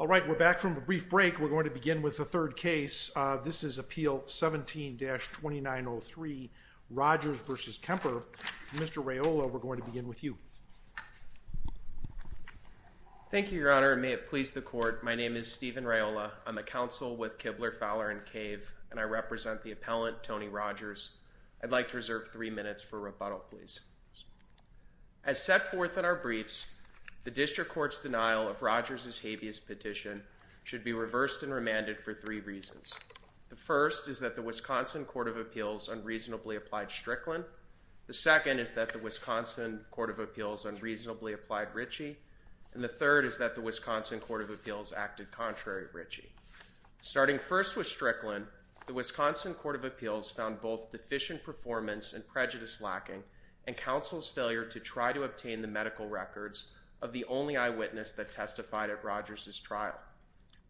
All right, we're back from a brief break. We're going to begin with the third case. This is Appeal 17-2903, Rogers v. Kemper. Mr. Raiola, we're going to begin with you. Thank you, Your Honor, and may it please the Court, my name is Stephen Raiola. I'm a counsel with Kibler, Fowler & Cave, and I represent the appellant, Tony Rogers. I'd like to reserve three minutes for rebuttal, please. As set forth in our briefs, the District Court's Petition should be reversed and remanded for three reasons. The first is that the Wisconsin Court of Appeals unreasonably applied Strickland. The second is that the Wisconsin Court of Appeals unreasonably applied Ritchie. And the third is that the Wisconsin Court of Appeals acted contrary to Ritchie. Starting first with Strickland, the Wisconsin Court of Appeals found both deficient performance and prejudice lacking, and counsel's failure to try to obtain the medical records of the only eyewitness that testified at Rogers' trial.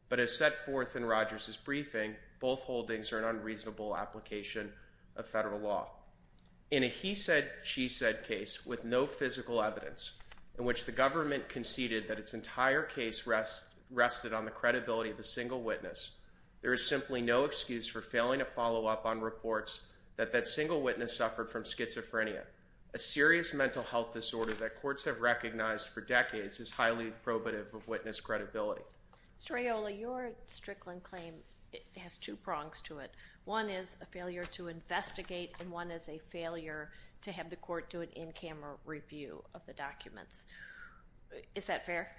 But as set forth in Rogers' briefing, both holdings are an unreasonable application of federal law. In a he said, she said case with no physical evidence, in which the government conceded that its entire case rested on the credibility of a single witness, there is simply no excuse for failing to follow up on reports that that single witness suffered from schizophrenia, a serious mental health disorder that courts have recognized for decades is highly probative of witness credibility. Mr. Aiola, your Strickland claim has two prongs to it. One is a failure to investigate, and one is a failure to have the court do an in-camera review of the documents. Is that fair?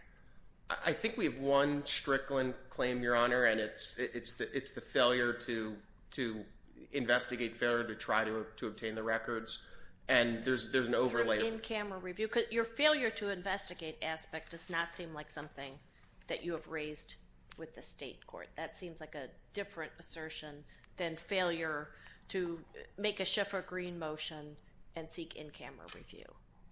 I think we have one Strickland claim, Your Honor, and it's the failure to investigate, failure to try to obtain the records, and there's an overlay. Through an in-camera review, because your failure to investigate aspect does not seem like something that you have raised with the state court. That seems like a different assertion than failure to make a Schiff or Green motion and seek in-camera review.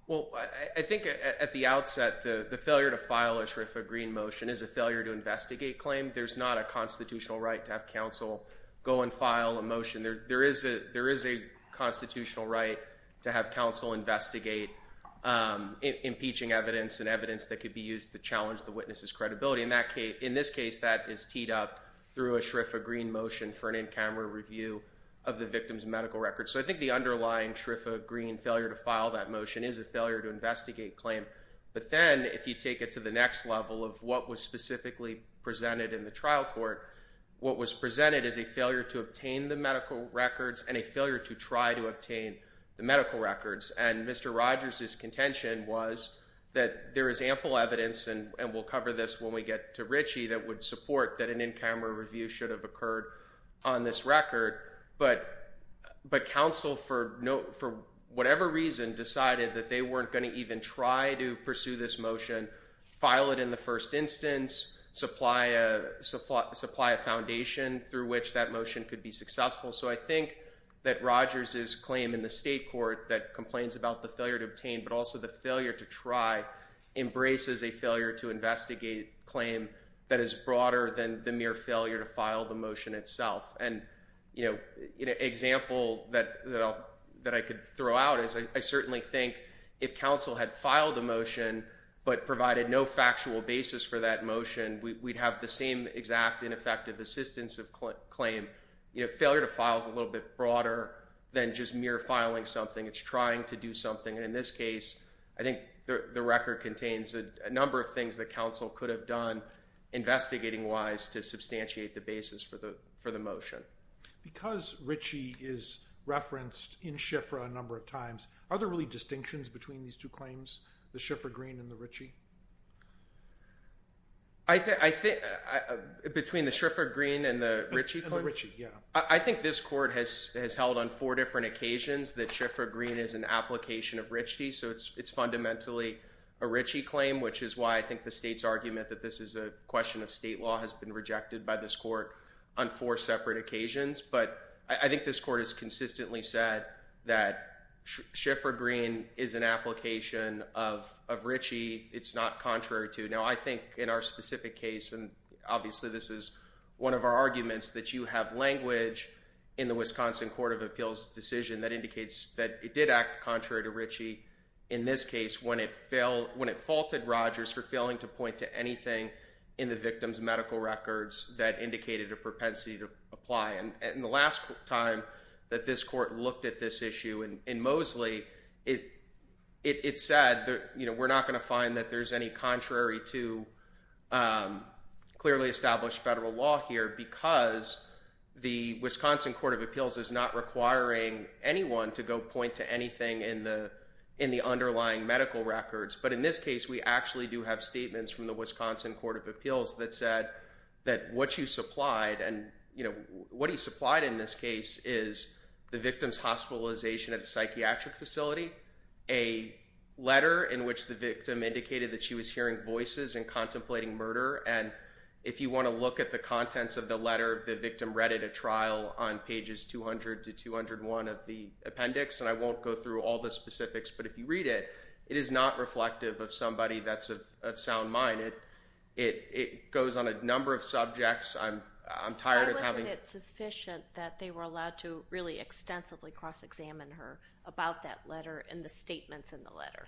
Well, I think at the outset, the failure to file a Schiff or Green motion is a failure to investigate claim. There's not a constitutional right to have counsel go and file a motion. There is a constitutional right to have counsel investigate impeaching evidence and evidence that could be used to challenge the witness's credibility. In this case, that is teed up through a Schiff or Green motion for an in-camera review of the victim's medical records. So I think the underlying Schiff or Green failure to file that motion is a failure to investigate claim. But then, if you take it to the next level of what was specifically presented in the trial court, what was presented is a failure to obtain the medical records and a failure to try to obtain the medical records. And Mr. Rogers' contention was that there is ample evidence, and we'll cover this when we get to Richie, that would support that an in-camera review should have occurred on this record. But counsel, for whatever reason, decided that they weren't going to even try to pursue this motion, file it in the first instance, supply a foundation through which that motion could be successful. So I think that Rogers' claim in the state court that complains about the failure to obtain, but also the failure to try, embraces a failure to investigate claim that is broader than the mere failure to file the motion itself. An example that I could throw out is I certainly think if counsel had filed a motion but provided no factual basis for that motion, we'd have the same exact ineffective assistance of claim. Failure to file is a little bit broader than just mere filing something. It's trying to do something. In this case, I think the record contains a number of things that counsel could have done, investigating-wise, to substantiate the basis for the motion. Because Richie is referenced in Schifra a number of times, are there really distinctions between these two claims, the Schifra Green and the Richie? Between the Schifra Green and the Richie? And the Richie, yeah. I think this court has held on four different occasions that Schifra Green is an application of Richie, so it's fundamentally a Richie claim, which is why I think the state's argument that this is a question of state law has been rejected by this court on four separate occasions. But I think this court has consistently said that Schifra Green is an application of Richie, it's not contrary to. Now I think in our specific case, and obviously this is one of our arguments that you have language in the Wisconsin Court of Appeals decision that indicates that it did act contrary to Richie in this case when it faulted Rogers for failing to point to anything in the victim's medical records that indicated a propensity to apply. And the last time that this court looked at this issue in Mosley, it said we're not going to find that there's any contrary to clearly established federal law here because the Wisconsin Court of Appeals is not requiring anyone to go point to anything in the underlying medical records. But in this case, we actually do have statements from the Wisconsin Court of Appeals that said that what you supplied, and what he supplied in this case is the victim's hospitalization at a psychiatric facility, a letter in which the victim indicated that she was hearing voices and contemplating murder, and if you want to look at the contents of the letter, the victim read it at trial on pages 200 to 201 of the appendix, and I won't go through all the specifics, but if you read it, it is not reflective of somebody that's of sound mind. It goes on a number of subjects. I'm tired of having... Why wasn't it sufficient that they were allowed to really extensively cross-examine her about that letter and the statements in the letter?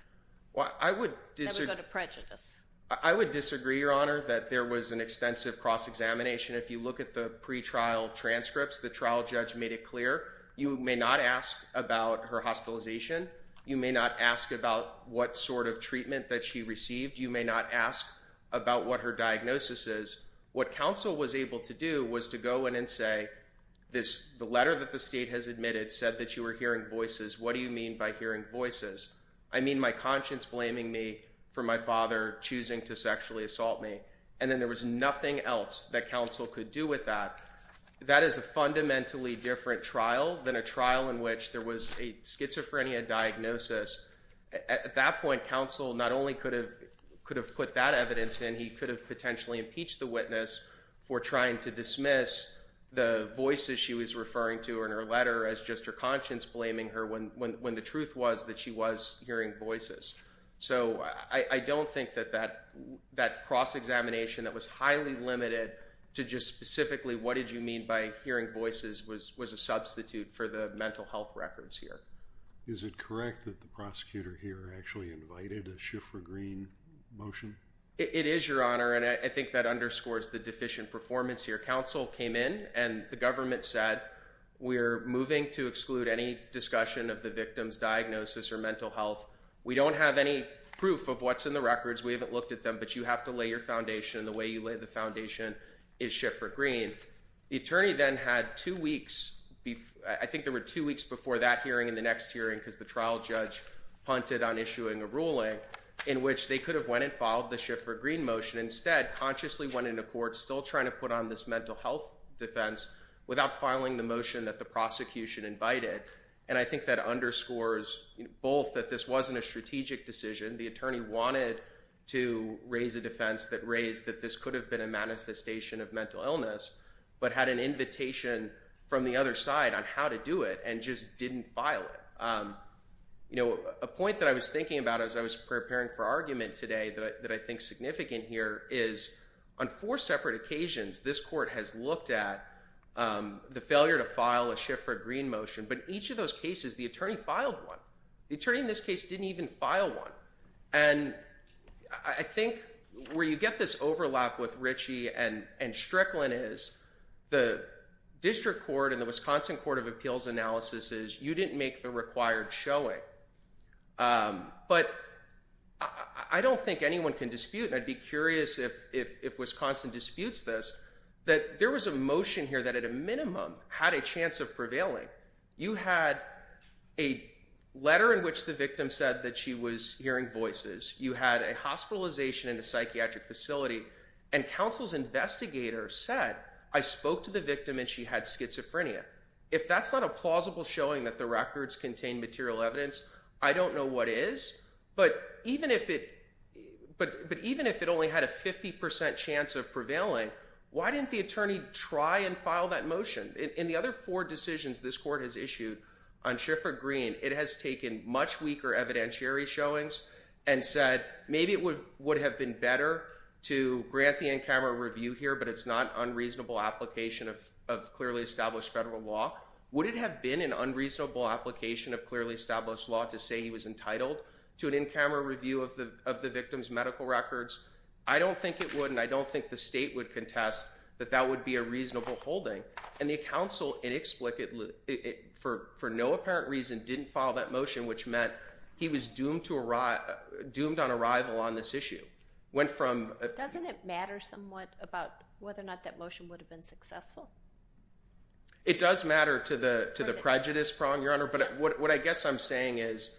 That would go to prejudice. I would disagree, Your Honor, that there was an extensive cross-examination. If you look at the pretrial transcripts, the trial judge made it clear. You may not ask about her hospitalization. You may not ask about what sort of treatment that she received. You may not ask about what her diagnosis is. What counsel was able to do was to go in and say, the letter that the state has admitted said that you were hearing voices. What do you mean by hearing voices? I mean my conscience blaming me for my father choosing to sexually assault me. And then there was nothing else that counsel could do with that. That is a fundamentally different trial than a trial in which there was a schizophrenia diagnosis. At that point, counsel not only could have put that evidence in, he could have potentially impeached the witness for trying to dismiss the voices she was referring to in her letter as just her conscience blaming her when the truth was that she was hearing voices. So I don't think that that cross-examination that was highly limited to just specifically what did you mean by hearing voices was a substitute for the mental health records here. Is it correct that the prosecutor here actually invited a Schiffer-Green motion? It is, Your Honor, and I think that underscores the deficient performance here. Counsel came in and the government said, we're moving to exclude any discussion of the victim's diagnosis or mental health. We don't have any proof of what's in the records. We haven't looked at them, but you have to lay your foundation. The way you lay the foundation is Schiffer-Green. The attorney then had two weeks, I think there were two weeks before that hearing and the next hearing because the trial judge punted on issuing a ruling in which they could have went and filed the Schiffer-Green motion. Instead, consciously went into court still trying to put on this mental health defense without filing the motion that the prosecution invited. And I think that underscores both that this wasn't a strategic decision. The attorney wanted to raise a defense that raised that this could have been a manifestation of mental illness, but had an invitation from the other side on how to do it and just didn't file it. A point that I was thinking about as I was preparing for argument today that I think is significant here is on four separate occasions, this court has looked at the failure to file a Schiffer-Green motion, but each of those cases, the attorney filed one. The attorney in this case didn't even file one. And I think where you get this overlap with Ritchie and Strickland is the district court and the Wisconsin Court of Appeals analysis is you didn't make the required showing. But I don't think anyone can dispute, and I'd be curious if Wisconsin disputes this, that there was a motion here that at a minimum had a chance of prevailing. You had a letter in which the victim said that she was hearing voices. You had a hospitalization in a psychiatric facility. And counsel's investigator said, I spoke to the victim and she had schizophrenia. If that's not a plausible showing that the records contain material evidence, I don't know what is. But even if it only had a 50% chance of prevailing, why didn't the attorney try and file that motion? In the other four decisions this court has issued on Schiffer-Green, it has taken much weaker evidentiary showings and said, maybe it would have been better to grant the in-camera review here, but it's not unreasonable application of clearly established federal law. Would it have been an unreasonable application of clearly established law to say he was entitled to an in-camera review of the victim's medical records? I don't think it would, and I don't think the state would contest that that would be a reasonable holding. And the counsel inexplicably, for no apparent reason, didn't file that motion, which meant he was doomed on arrival on this issue. Doesn't it matter somewhat about whether or not that motion would have been successful? It does matter to the prejudice prong, Your Honor. But what I guess I'm saying is,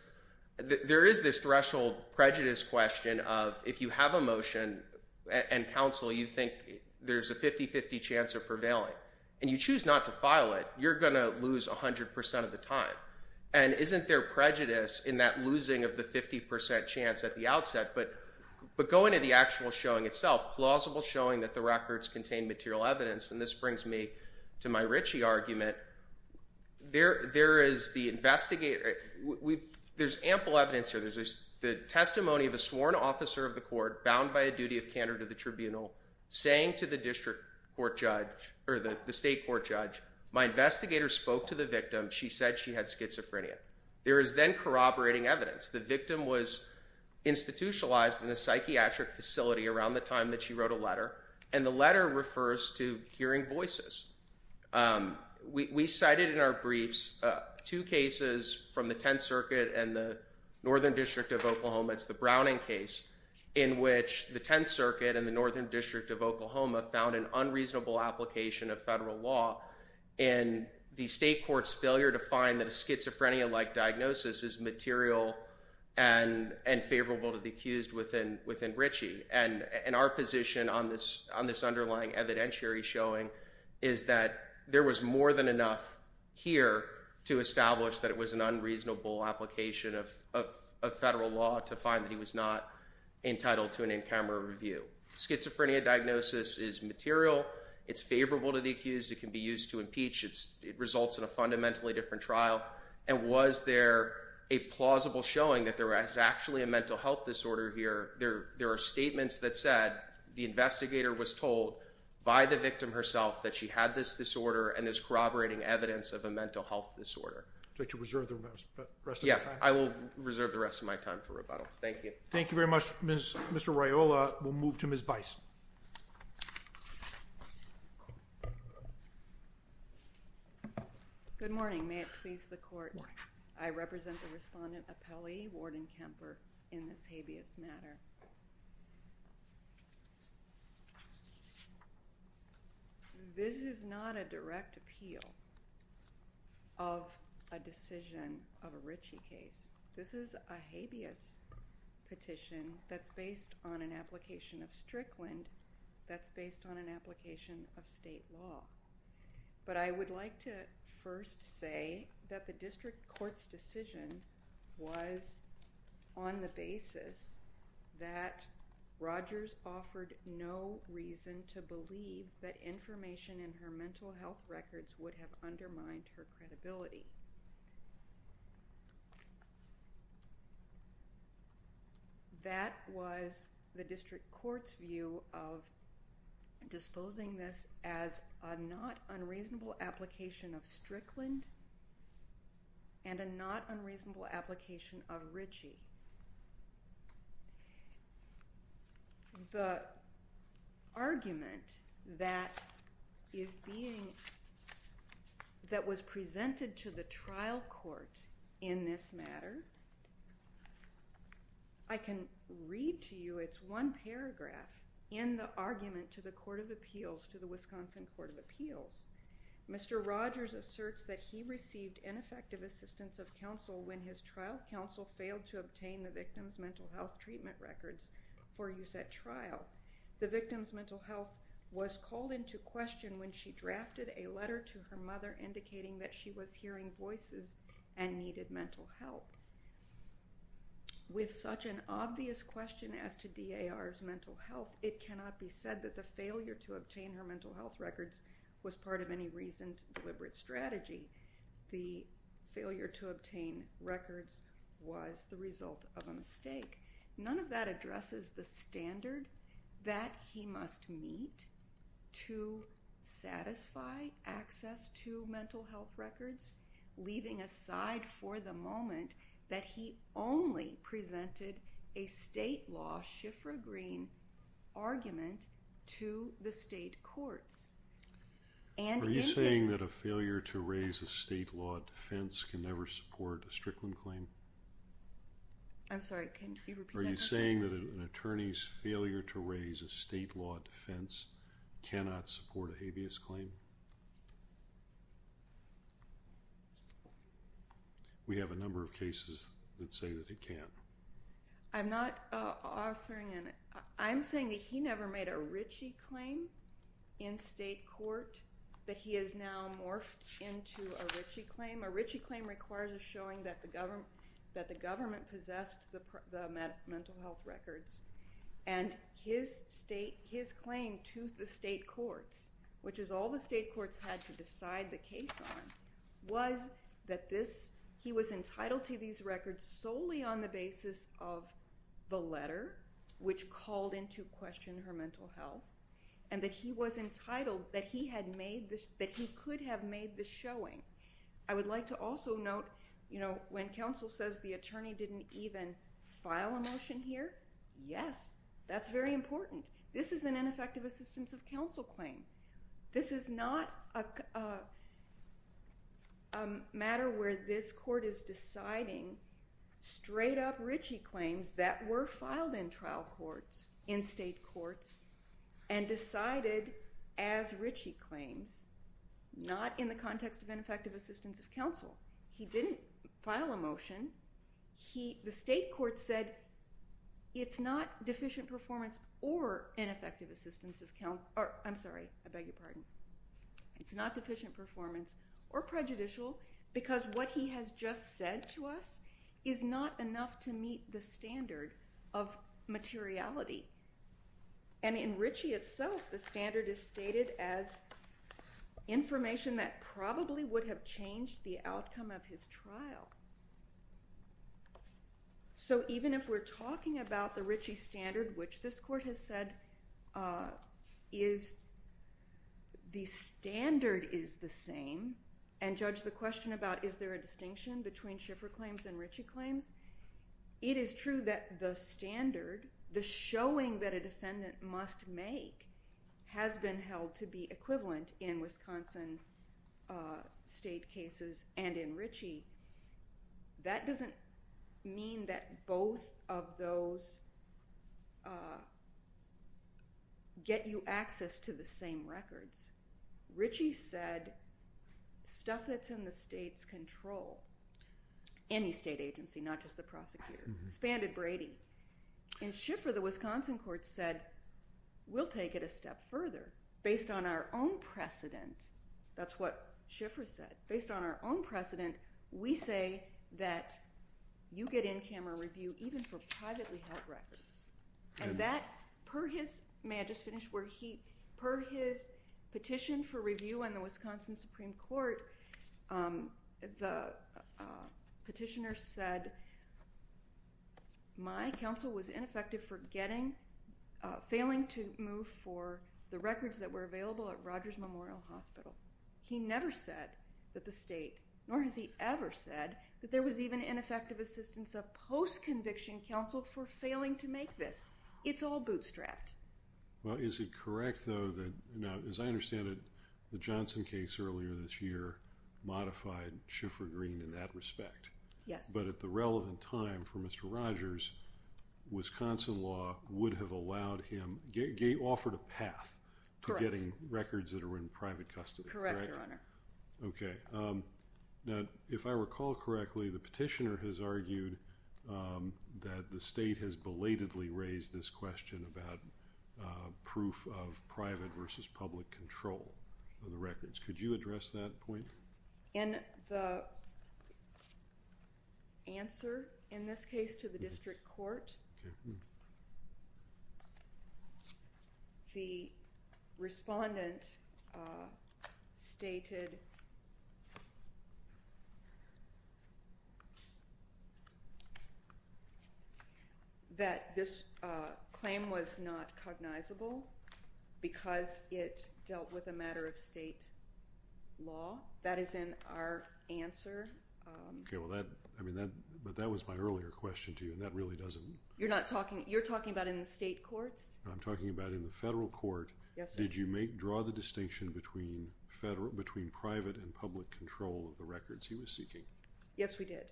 there is this threshold prejudice question of, if you have a motion and counsel, you think there's a 50-50 chance of prevailing, and you choose not to file it, you're going to lose 100% of the time. And isn't there prejudice in that losing of the 50% chance at the outset? But going to the actual showing itself, plausible showing that the records contain material evidence, and this brings me to my Ritchie argument, there is the investigator, there's ample evidence here, there's the testimony of a sworn officer of the court, bound by a duty of candor to the tribunal, saying to the district court judge, or the state court judge, my investigator spoke to the victim, she said she had schizophrenia. There is then corroborating evidence. The victim was institutionalized in a psychiatric facility around the time that she wrote a letter, and the letter refers to hearing voices. We cited in our briefs two cases from the Tenth Circuit and the Northern District of Oklahoma, it's the Browning case, in which the Tenth Circuit and the Northern District of Oklahoma found an unreasonable application of federal law, and the state court's failure to find that a schizophrenia-like diagnosis is material and favorable to the accused within Ritchie. And our position on this underlying evidentiary showing is that there was more than enough here to establish that it was an unreasonable application of federal law to find that he was not entitled to an in-camera review. Schizophrenia diagnosis is material, it's favorable to the accused, it can be used to impeach, it results in a fundamentally different trial. And was there a plausible showing that there is actually a mental health disorder here? There are statements that said the investigator was told by the victim herself that she had this disorder and there's corroborating evidence of a mental health disorder. Would you like to reserve the rest of your time? Yeah, I will reserve the rest of my time for rebuttal. Thank you. Thank you very much. Mr. Raiola, we'll move to Ms. Weiss. Good morning. May it please the court, I represent the respondent, Apelli Warden Kemper, in this case. This is not a direct appeal of a decision of a Ritchie case. This is a habeas petition that's based on an application of Strickland, that's based on an application of state law. But I would like to first say that the district court's decision was on the basis that Rogers offered no reason to believe that information in her mental health records would have undermined her credibility. That was the district court's view of disposing this as a not unreasonable application of Strickland and a not unreasonable application of Ritchie. The argument that was presented to the trial court in this matter, I can read to you, it's one paragraph in the argument to the Wisconsin Court of Appeals. Mr. Rogers asserts that he received ineffective assistance of counsel when his trial counsel failed to obtain the victim's mental health treatment records for use at trial. The victim's mental health was called into question when she drafted a letter to her mother indicating that she was hearing voices and needed mental health. With such an obvious question as to DAR's mental health, it cannot be said that the failure to obtain her mental health records was part of any recent deliberate strategy. The failure to obtain records was the result of a mistake. None of that addresses the standard that he must meet to satisfy access to mental health records, leaving aside for the moment that he only presented a state law, Schiffra-Green argument to the state courts. Are you saying that a failure to raise a state law defense can never support a Strickland claim? I'm sorry, can you repeat that question? Are you saying that an attorney's failure to We have a number of cases that say that it can't. I'm not offering it. I'm saying that he never made a Ritchie claim in state court, but he has now morphed into a Ritchie claim. A Ritchie claim requires a showing that the government, that the government possessed the mental health records and his state, his claim to the state courts, which is all the state courts had to decide the case on, was that this, he was entitled to these records solely on the basis of the letter, which called into question her mental health, and that he was entitled, that he had made, that he could have made the showing. I would like to also note, you know, when counsel says the attorney didn't even file a motion here, yes, that's very important. This is an ineffective assistance of counsel claim. This is not a matter where this court is deciding straight-up Ritchie claims that were filed in trial courts, in state courts, and decided as Ritchie claims, not in the context of ineffective assistance of counsel. He didn't file a motion. He, the state court said, it's not deficient performance or ineffective assistance of counsel, or, I'm sorry, I beg your pardon. It's not deficient performance or prejudicial because what he has just said to us is not enough to meet the standard of materiality. And in Ritchie itself, the standard is stated as information that probably would have changed the outcome of his trial. So even if we're talking about the Ritchie standard, which this court has said is the standard is the same, and judge the question about is there a distinction between Schiffer claims and Ritchie claims, it is true that the standard, the showing that a defendant must make, has been held to be that doesn't mean that both of those get you access to the same records. Ritchie said stuff that's in the state's control, any state agency, not just the prosecutor, spanned at Brady. And Schiffer, the Wisconsin court, said we'll take it a step further based on our own precedent. That's what Schiffer said. Based on our own precedent, we say that you get in-camera review even for privately held records. And that, per his, may I just finish, per his petition for review in the Wisconsin Supreme Court, the petitioner said my counsel was ineffective for getting, failing to move for the records that were available at Rogers Memorial Hospital. He never said that the state, nor has he ever said that there was even ineffective assistance of post-conviction counsel for failing to make this. It's all bootstrapped. Well, is it correct though that, now as I understand it, the Johnson case earlier this year modified Schiffer Green in that respect. Yes. But at the relevant time for Mr. Gay, offered a path to getting records that are in private custody. Correct, Your Honor. Okay. Now, if I recall correctly, the petitioner has argued that the state has belatedly raised this question about proof of private versus public control of the records. Could you address that please? The respondent stated that this claim was not cognizable because it dealt with a matter of state law. That is in our answer. Okay, well that, I mean that, but that was my earlier question to you and that really You're not talking, you're talking about in the state courts? I'm talking about in the federal court. Yes, sir. Did you make, draw the distinction between federal, between private and public control of the records he was seeking? Yes, we did.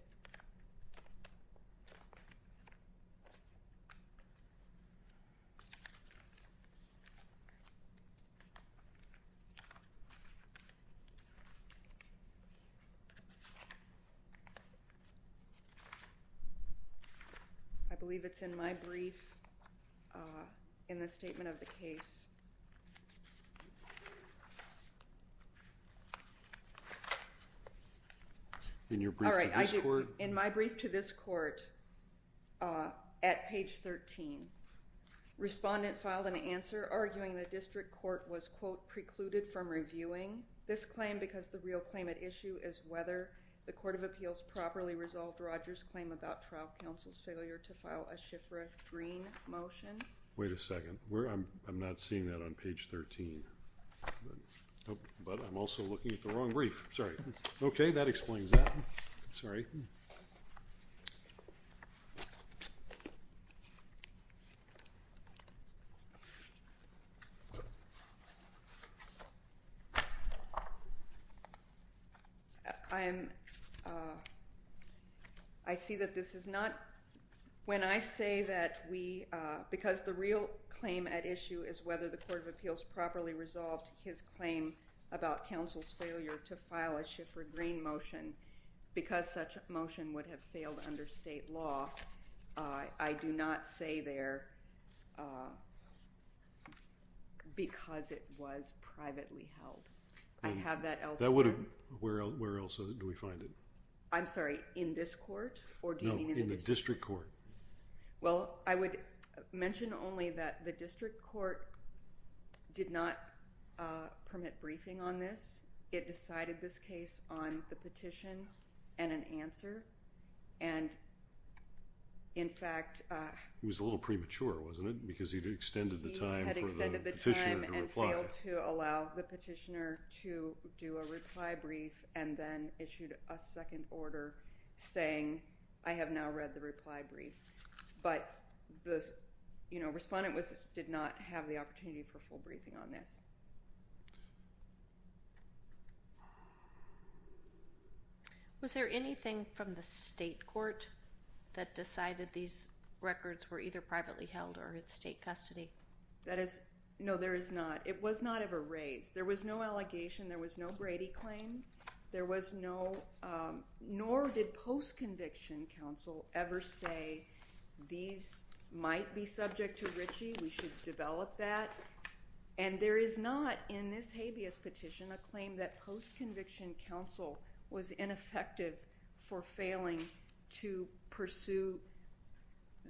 I believe it's in my brief in the statement of the case. In your brief to this court? In my brief to this court at page 13. Respondent filed an answer arguing the district court was, quote, precluded from reviewing this claim because the real claim at issue is whether the Court of Appeals properly resolved Rogers' claim about trial counsel's to file a Schifrin Green motion. Wait a second, where, I'm not seeing that on page 13. But I'm also looking at the wrong brief. Sorry. Okay, that explains that. Sorry. I'm, I see that this is not, when I say that we, because the real claim at issue is whether the Court of Appeals properly resolved his claim about counsel's failure to file a Schifrin Green motion because such a motion would have failed under state law, I do not say there because it was privately held. I have that elsewhere. That would have, where else do we find it? I'm sorry, in this court? Or do you mean in the district court? Well, I would mention only that the district court did not permit briefing on this. It decided this case on the petition and an answer, and in fact. It was a little premature, wasn't it? Because he extended the time for the petitioner to reply. He had extended the time and failed to allow the petitioner to do a reply brief and then issued a second order saying, I have now read the reply brief. But the respondent did not have the opportunity for full briefing on this. Was there anything from the state court that decided these records were either privately held or in state custody? That is, no, there is not. It was not ever raised. There was no post-conviction counsel ever say, these might be subject to Ritchie. We should develop that. And there is not in this habeas petition a claim that post-conviction counsel was ineffective for failing to pursue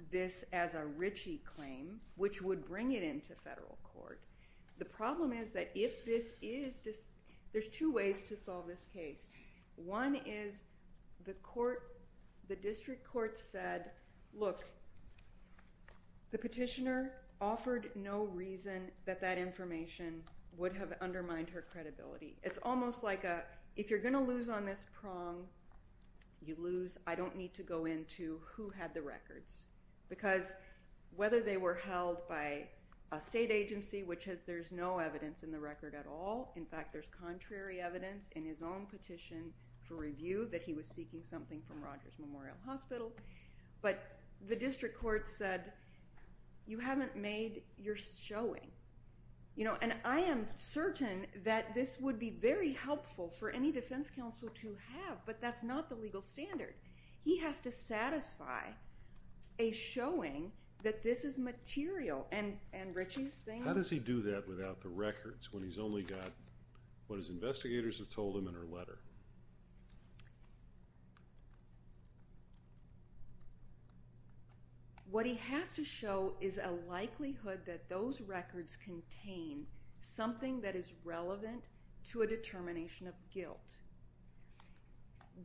this as a Ritchie claim, which would bring it into federal court. The problem is that if this is, there's two ways to solve this case. One is the court, the district court said, look, the petitioner offered no reason that that information would have undermined her credibility. It's almost like a, if you're going to lose on this prong, you lose. I don't need to go into who had the records. Because whether they were held by a state agency, which has, there's no evidence in the record at all. In fact, there's contrary evidence in his own petition for review that he was seeking something from Rogers Memorial Hospital. But the district court said, you haven't made your showing. And I am certain that this would be very helpful for any defense counsel to have, but that's not the legal standard. He has to How does he do that without the records when he's only got what his investigators have told him in her letter? What he has to show is a likelihood that those records contain something that is relevant to a determination of guilt.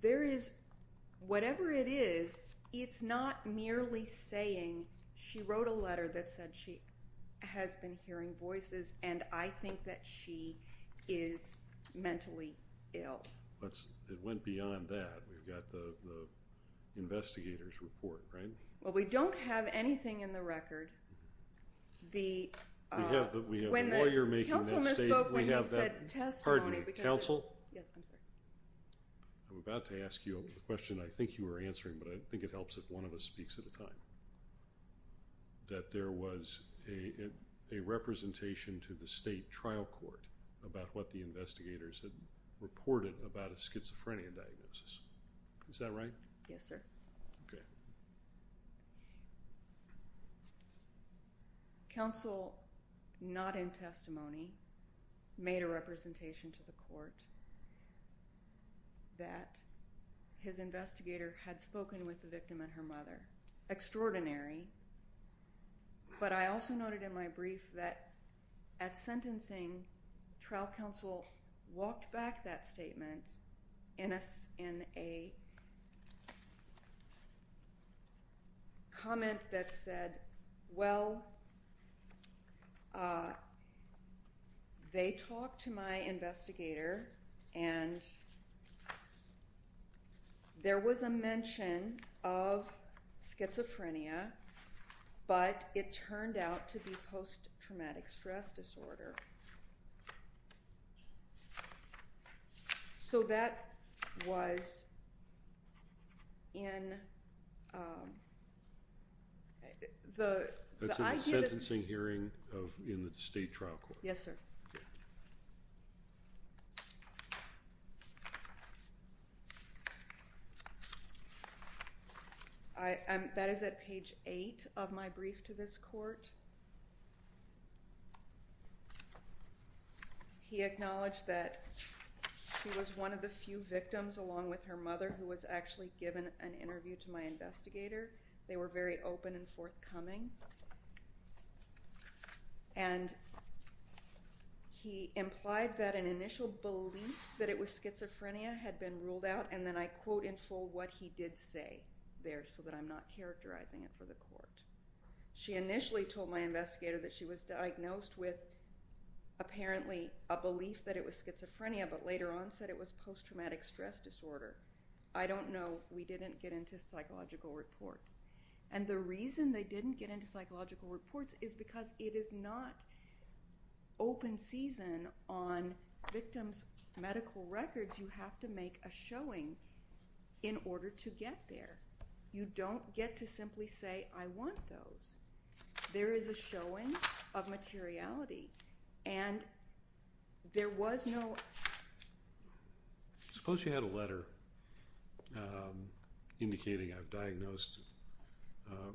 There is, whatever it is, it's not merely saying she wrote a letter that said she has been hearing voices and I think that she is mentally ill. But it went beyond that. We've got the investigators report, right? Well, we don't have anything in the record. The, uh, we have, but we have a lawyer making that state, we have that test. Pardon me, counsel. I'm about to ask you a question. I think you were answering, but I think it helps if one of us speaks at a time. That there was a representation to the state trial court about what the investigators had reported about a schizophrenia diagnosis. Is that right? Yes, sir. Okay. Counsel, not in testimony, made a representation to the court that his investigator had spoken with the victim and her mother. Extraordinary. But I also noted in my brief that at sentencing, trial counsel walked back that statement in a, in a and there was a mention of schizophrenia, but it turned out to be post-traumatic stress disorder. So that was in, um, the, that's in the sentencing hearing of, in the state trial court. Yes, sir. Okay. I, um, that is at page eight of my brief to this court. He acknowledged that she was one of the few victims along with her mother who was actually given an interview to my investigator. They were very open and forthcoming. And he implied that an initial belief that it was schizophrenia had been ruled out. And then I quote in full what he did say there so that I'm not characterizing it for the court. She initially told my investigator that she was diagnosed with apparently a belief that it was schizophrenia, but later on said it was post-traumatic stress disorder. I don't know. We didn't get into psychological reports is because it is not open season on victims' medical records. You have to make a showing in order to get there. You don't get to simply say, I want those. There is a showing of materiality and there was no. Suppose you had a letter, um, indicating I've diagnosed, um,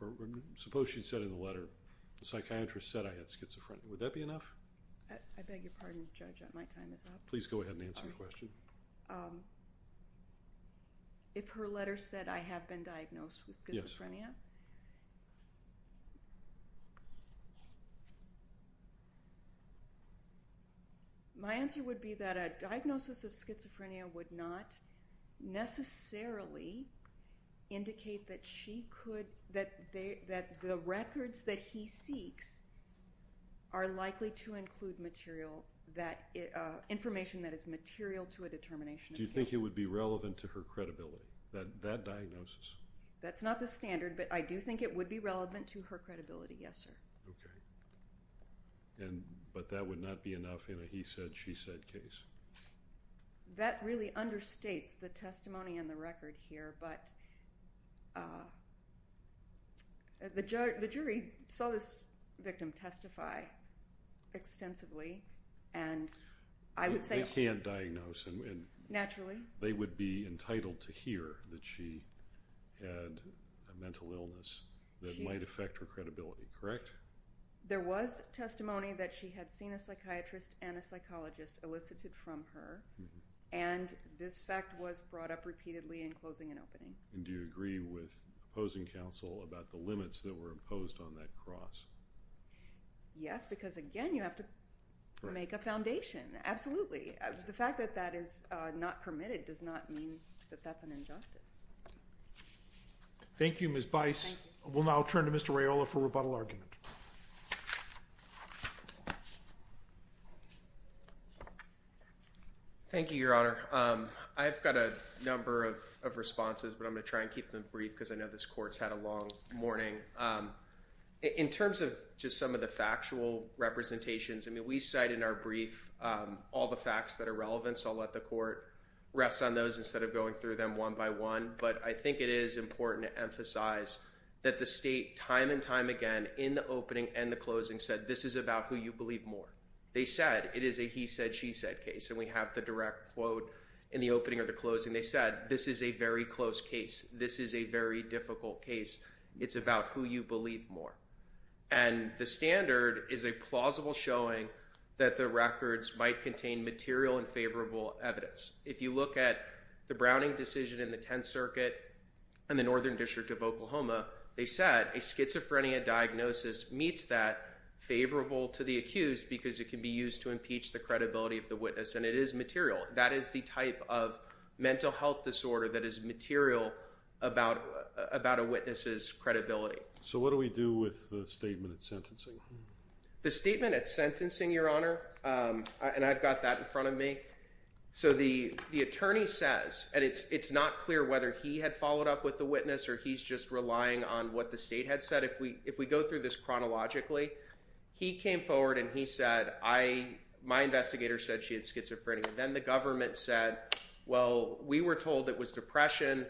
or suppose she said in the letter, the psychiatrist said I had schizophrenia, would that be enough? I beg your pardon, judge, my time is up. Please go ahead and answer the question. Um, if her letter said I have been diagnosed with schizophrenia, my answer would be that a diagnosis of schizophrenia would not necessarily indicate that she could, that the records that he seeks are likely to include material, information that is material to a determination of guilt. Do you think it would be relevant to her credibility that that diagnosis? That's not the standard, but I do think it would be relevant to her credibility. Yes, sir. Okay. And, but that would not be enough in a, he said, she said case that really understates the testimony and the record here. But, uh, the judge, the jury saw this victim testify extensively and I would say, can't diagnose and naturally they would be entitled to hear that she had a mental illness that might affect her credibility, correct? There was testimony that she had seen a psychiatrist and a psychologist elicited from her. And this fact was brought up repeatedly in closing and opening. And do you agree with opposing counsel about the limits that were imposed on that cross? Yes, because again, you have to make a foundation. Absolutely. The fact that that is not permitted does not mean that that's an injustice. Thank you, Ms. Bice. We'll now turn to Mr. Rayola for rebuttal argument. Thank you, Your Honor. Um, I've got a number of, of responses, but I'm going to try and keep them just some of the factual representations. I mean, we cite in our brief, um, all the facts that are relevant. So I'll let the court rest on those instead of going through them one by one. But I think it is important to emphasize that the state time and time again in the opening and the closing said, this is about who you believe more. They said it is a, he said, she said case. And we have the direct quote in the opening or the closing. They said, this is a very close case. This is a very difficult case. It's about who you believe more. And the standard is a plausible showing that the records might contain material and favorable evidence. If you look at the Browning decision in the 10th circuit and the Northern District of Oklahoma, they said a schizophrenia diagnosis meets that favorable to the accused because it can be used to impeach the credibility of the witness. And it is material. That is the type of mental health disorder that is material about, about a witness's credibility. So what do we do with the statement at sentencing? The statement at sentencing, your honor. Um, and I've got that in front of me. So the, the attorney says, and it's, it's not clear whether he had followed up with the witness or he's just relying on what the state had said. If we, if we go through this chronologically, he came forward and he said, I, my investigator said she had schizophrenia. Then the government said, well, we were told it was depression,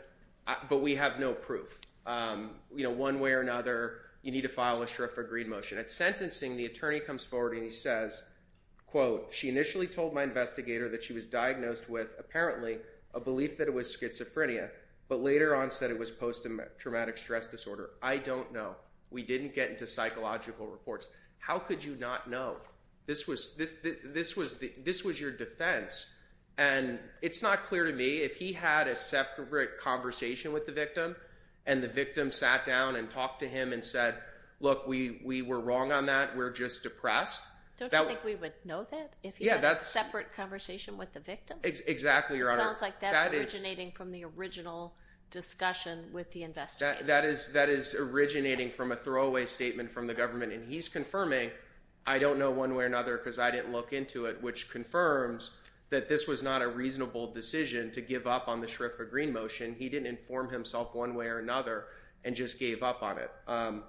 but we have no proof. Um, you know, one way or another, you need to file a sheriff agreed motion at sentencing. The attorney comes forward and he says, quote, she initially told my investigator that she was diagnosed with apparently a belief that it was schizophrenia, but later on said it was post-traumatic stress disorder. I don't know. We didn't get into psychological reports. How could you not know? This was, this, this, this was your defense. And it's not clear to me if he had a separate conversation with the victim and the victim sat down and talked to him and said, look, we, we were wrong on that. We're just depressed. Don't you think we would know that if he had a separate conversation with the victim? Exactly, your honor. That is originating from the original discussion with the investigator. That is, that is originating from a throwaway statement from the government. And he's confirming, I don't know one way or another, cause I didn't look into it, which confirms that this was not a reasonable decision to give up on the Schriffer green motion. He didn't inform himself one way or another and just gave up on it. Um,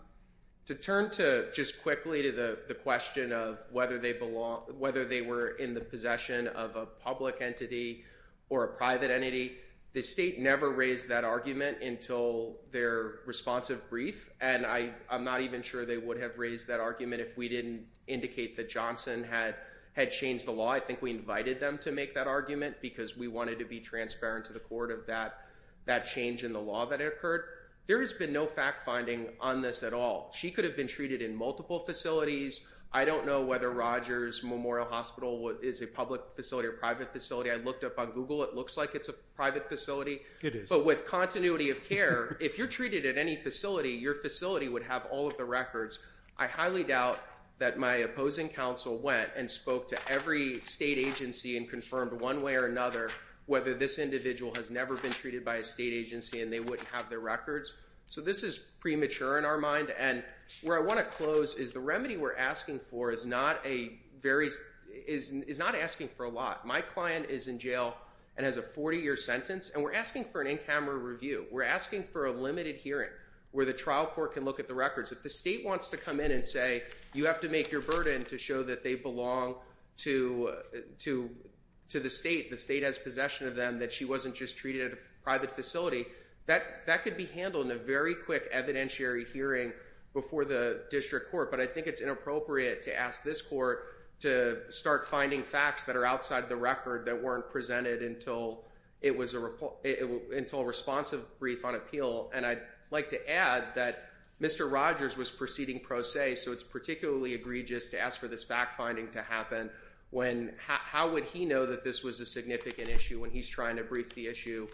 to turn to just quickly to the question of whether they belong, whether they were in the possession of a public entity or a private entity, the state never raised that argument until their responsive brief. And I, I'm not even sure they would have raised that argument if we didn't indicate that Johnson had had changed the law. I think we invited them to make that argument because we wanted to be transparent to the court of that, that change in the law that occurred. There has been no fact finding on this at all. She could have been treated in multiple facilities. I don't know whether Rogers Memorial Hospital is a public facility or private facility. I looked up on Google. It looks like it's a private facility, but with continuity of care, if you're treated at any facility, your facility would have all of the records. I highly doubt that my opposing council went and spoke to every state agency and confirmed one way or another, whether this individual has never been treated by a state agency and they wouldn't have their records. So this is premature in our mind. And where I want to close is the remedy we're asking for is not a very, is, is not asking for a lot. My client is in jail and has a 40 year sentence and we're asking for an in-camera review. We're asking for a limited hearing where the trial court can look at the records. If the state wants to come in and say, you have to make your burden to show that they belong to, to, to the state, the state has possession of them, that she wasn't just treated at a private facility, that, that could be handled in a very quick evidentiary hearing before the district court. But I think it's inappropriate to ask this court to start finding facts that are outside the record that weren't presented until it was a, until a responsive brief on appeal. And I'd like to add that Mr. Rogers was proceeding pro se, so it's particularly egregious to ask for this fact finding to happen when, how would he know that this was a significant issue when he's trying to brief the issue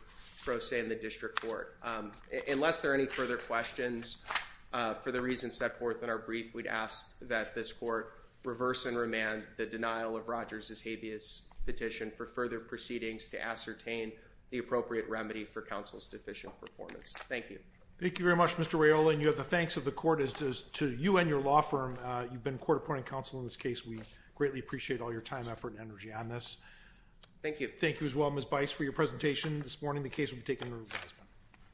pro se in the district court? Unless there are any further questions for the reasons set forth in our brief, we'd ask that this court reverse and remand the denial of Rogers' habeas petition for further proceedings to ascertain the appropriate remedy for counsel's deficient performance. Thank you. Thank you very much, Mr. Raiola, and you have the thanks of the court as does to you and your law firm. You've been court appointing counsel in this case. We greatly appreciate all your time, effort, and energy on this. Thank you. Thank you as well, Ms. Bice, for your presentation this morning. The case will be taken over.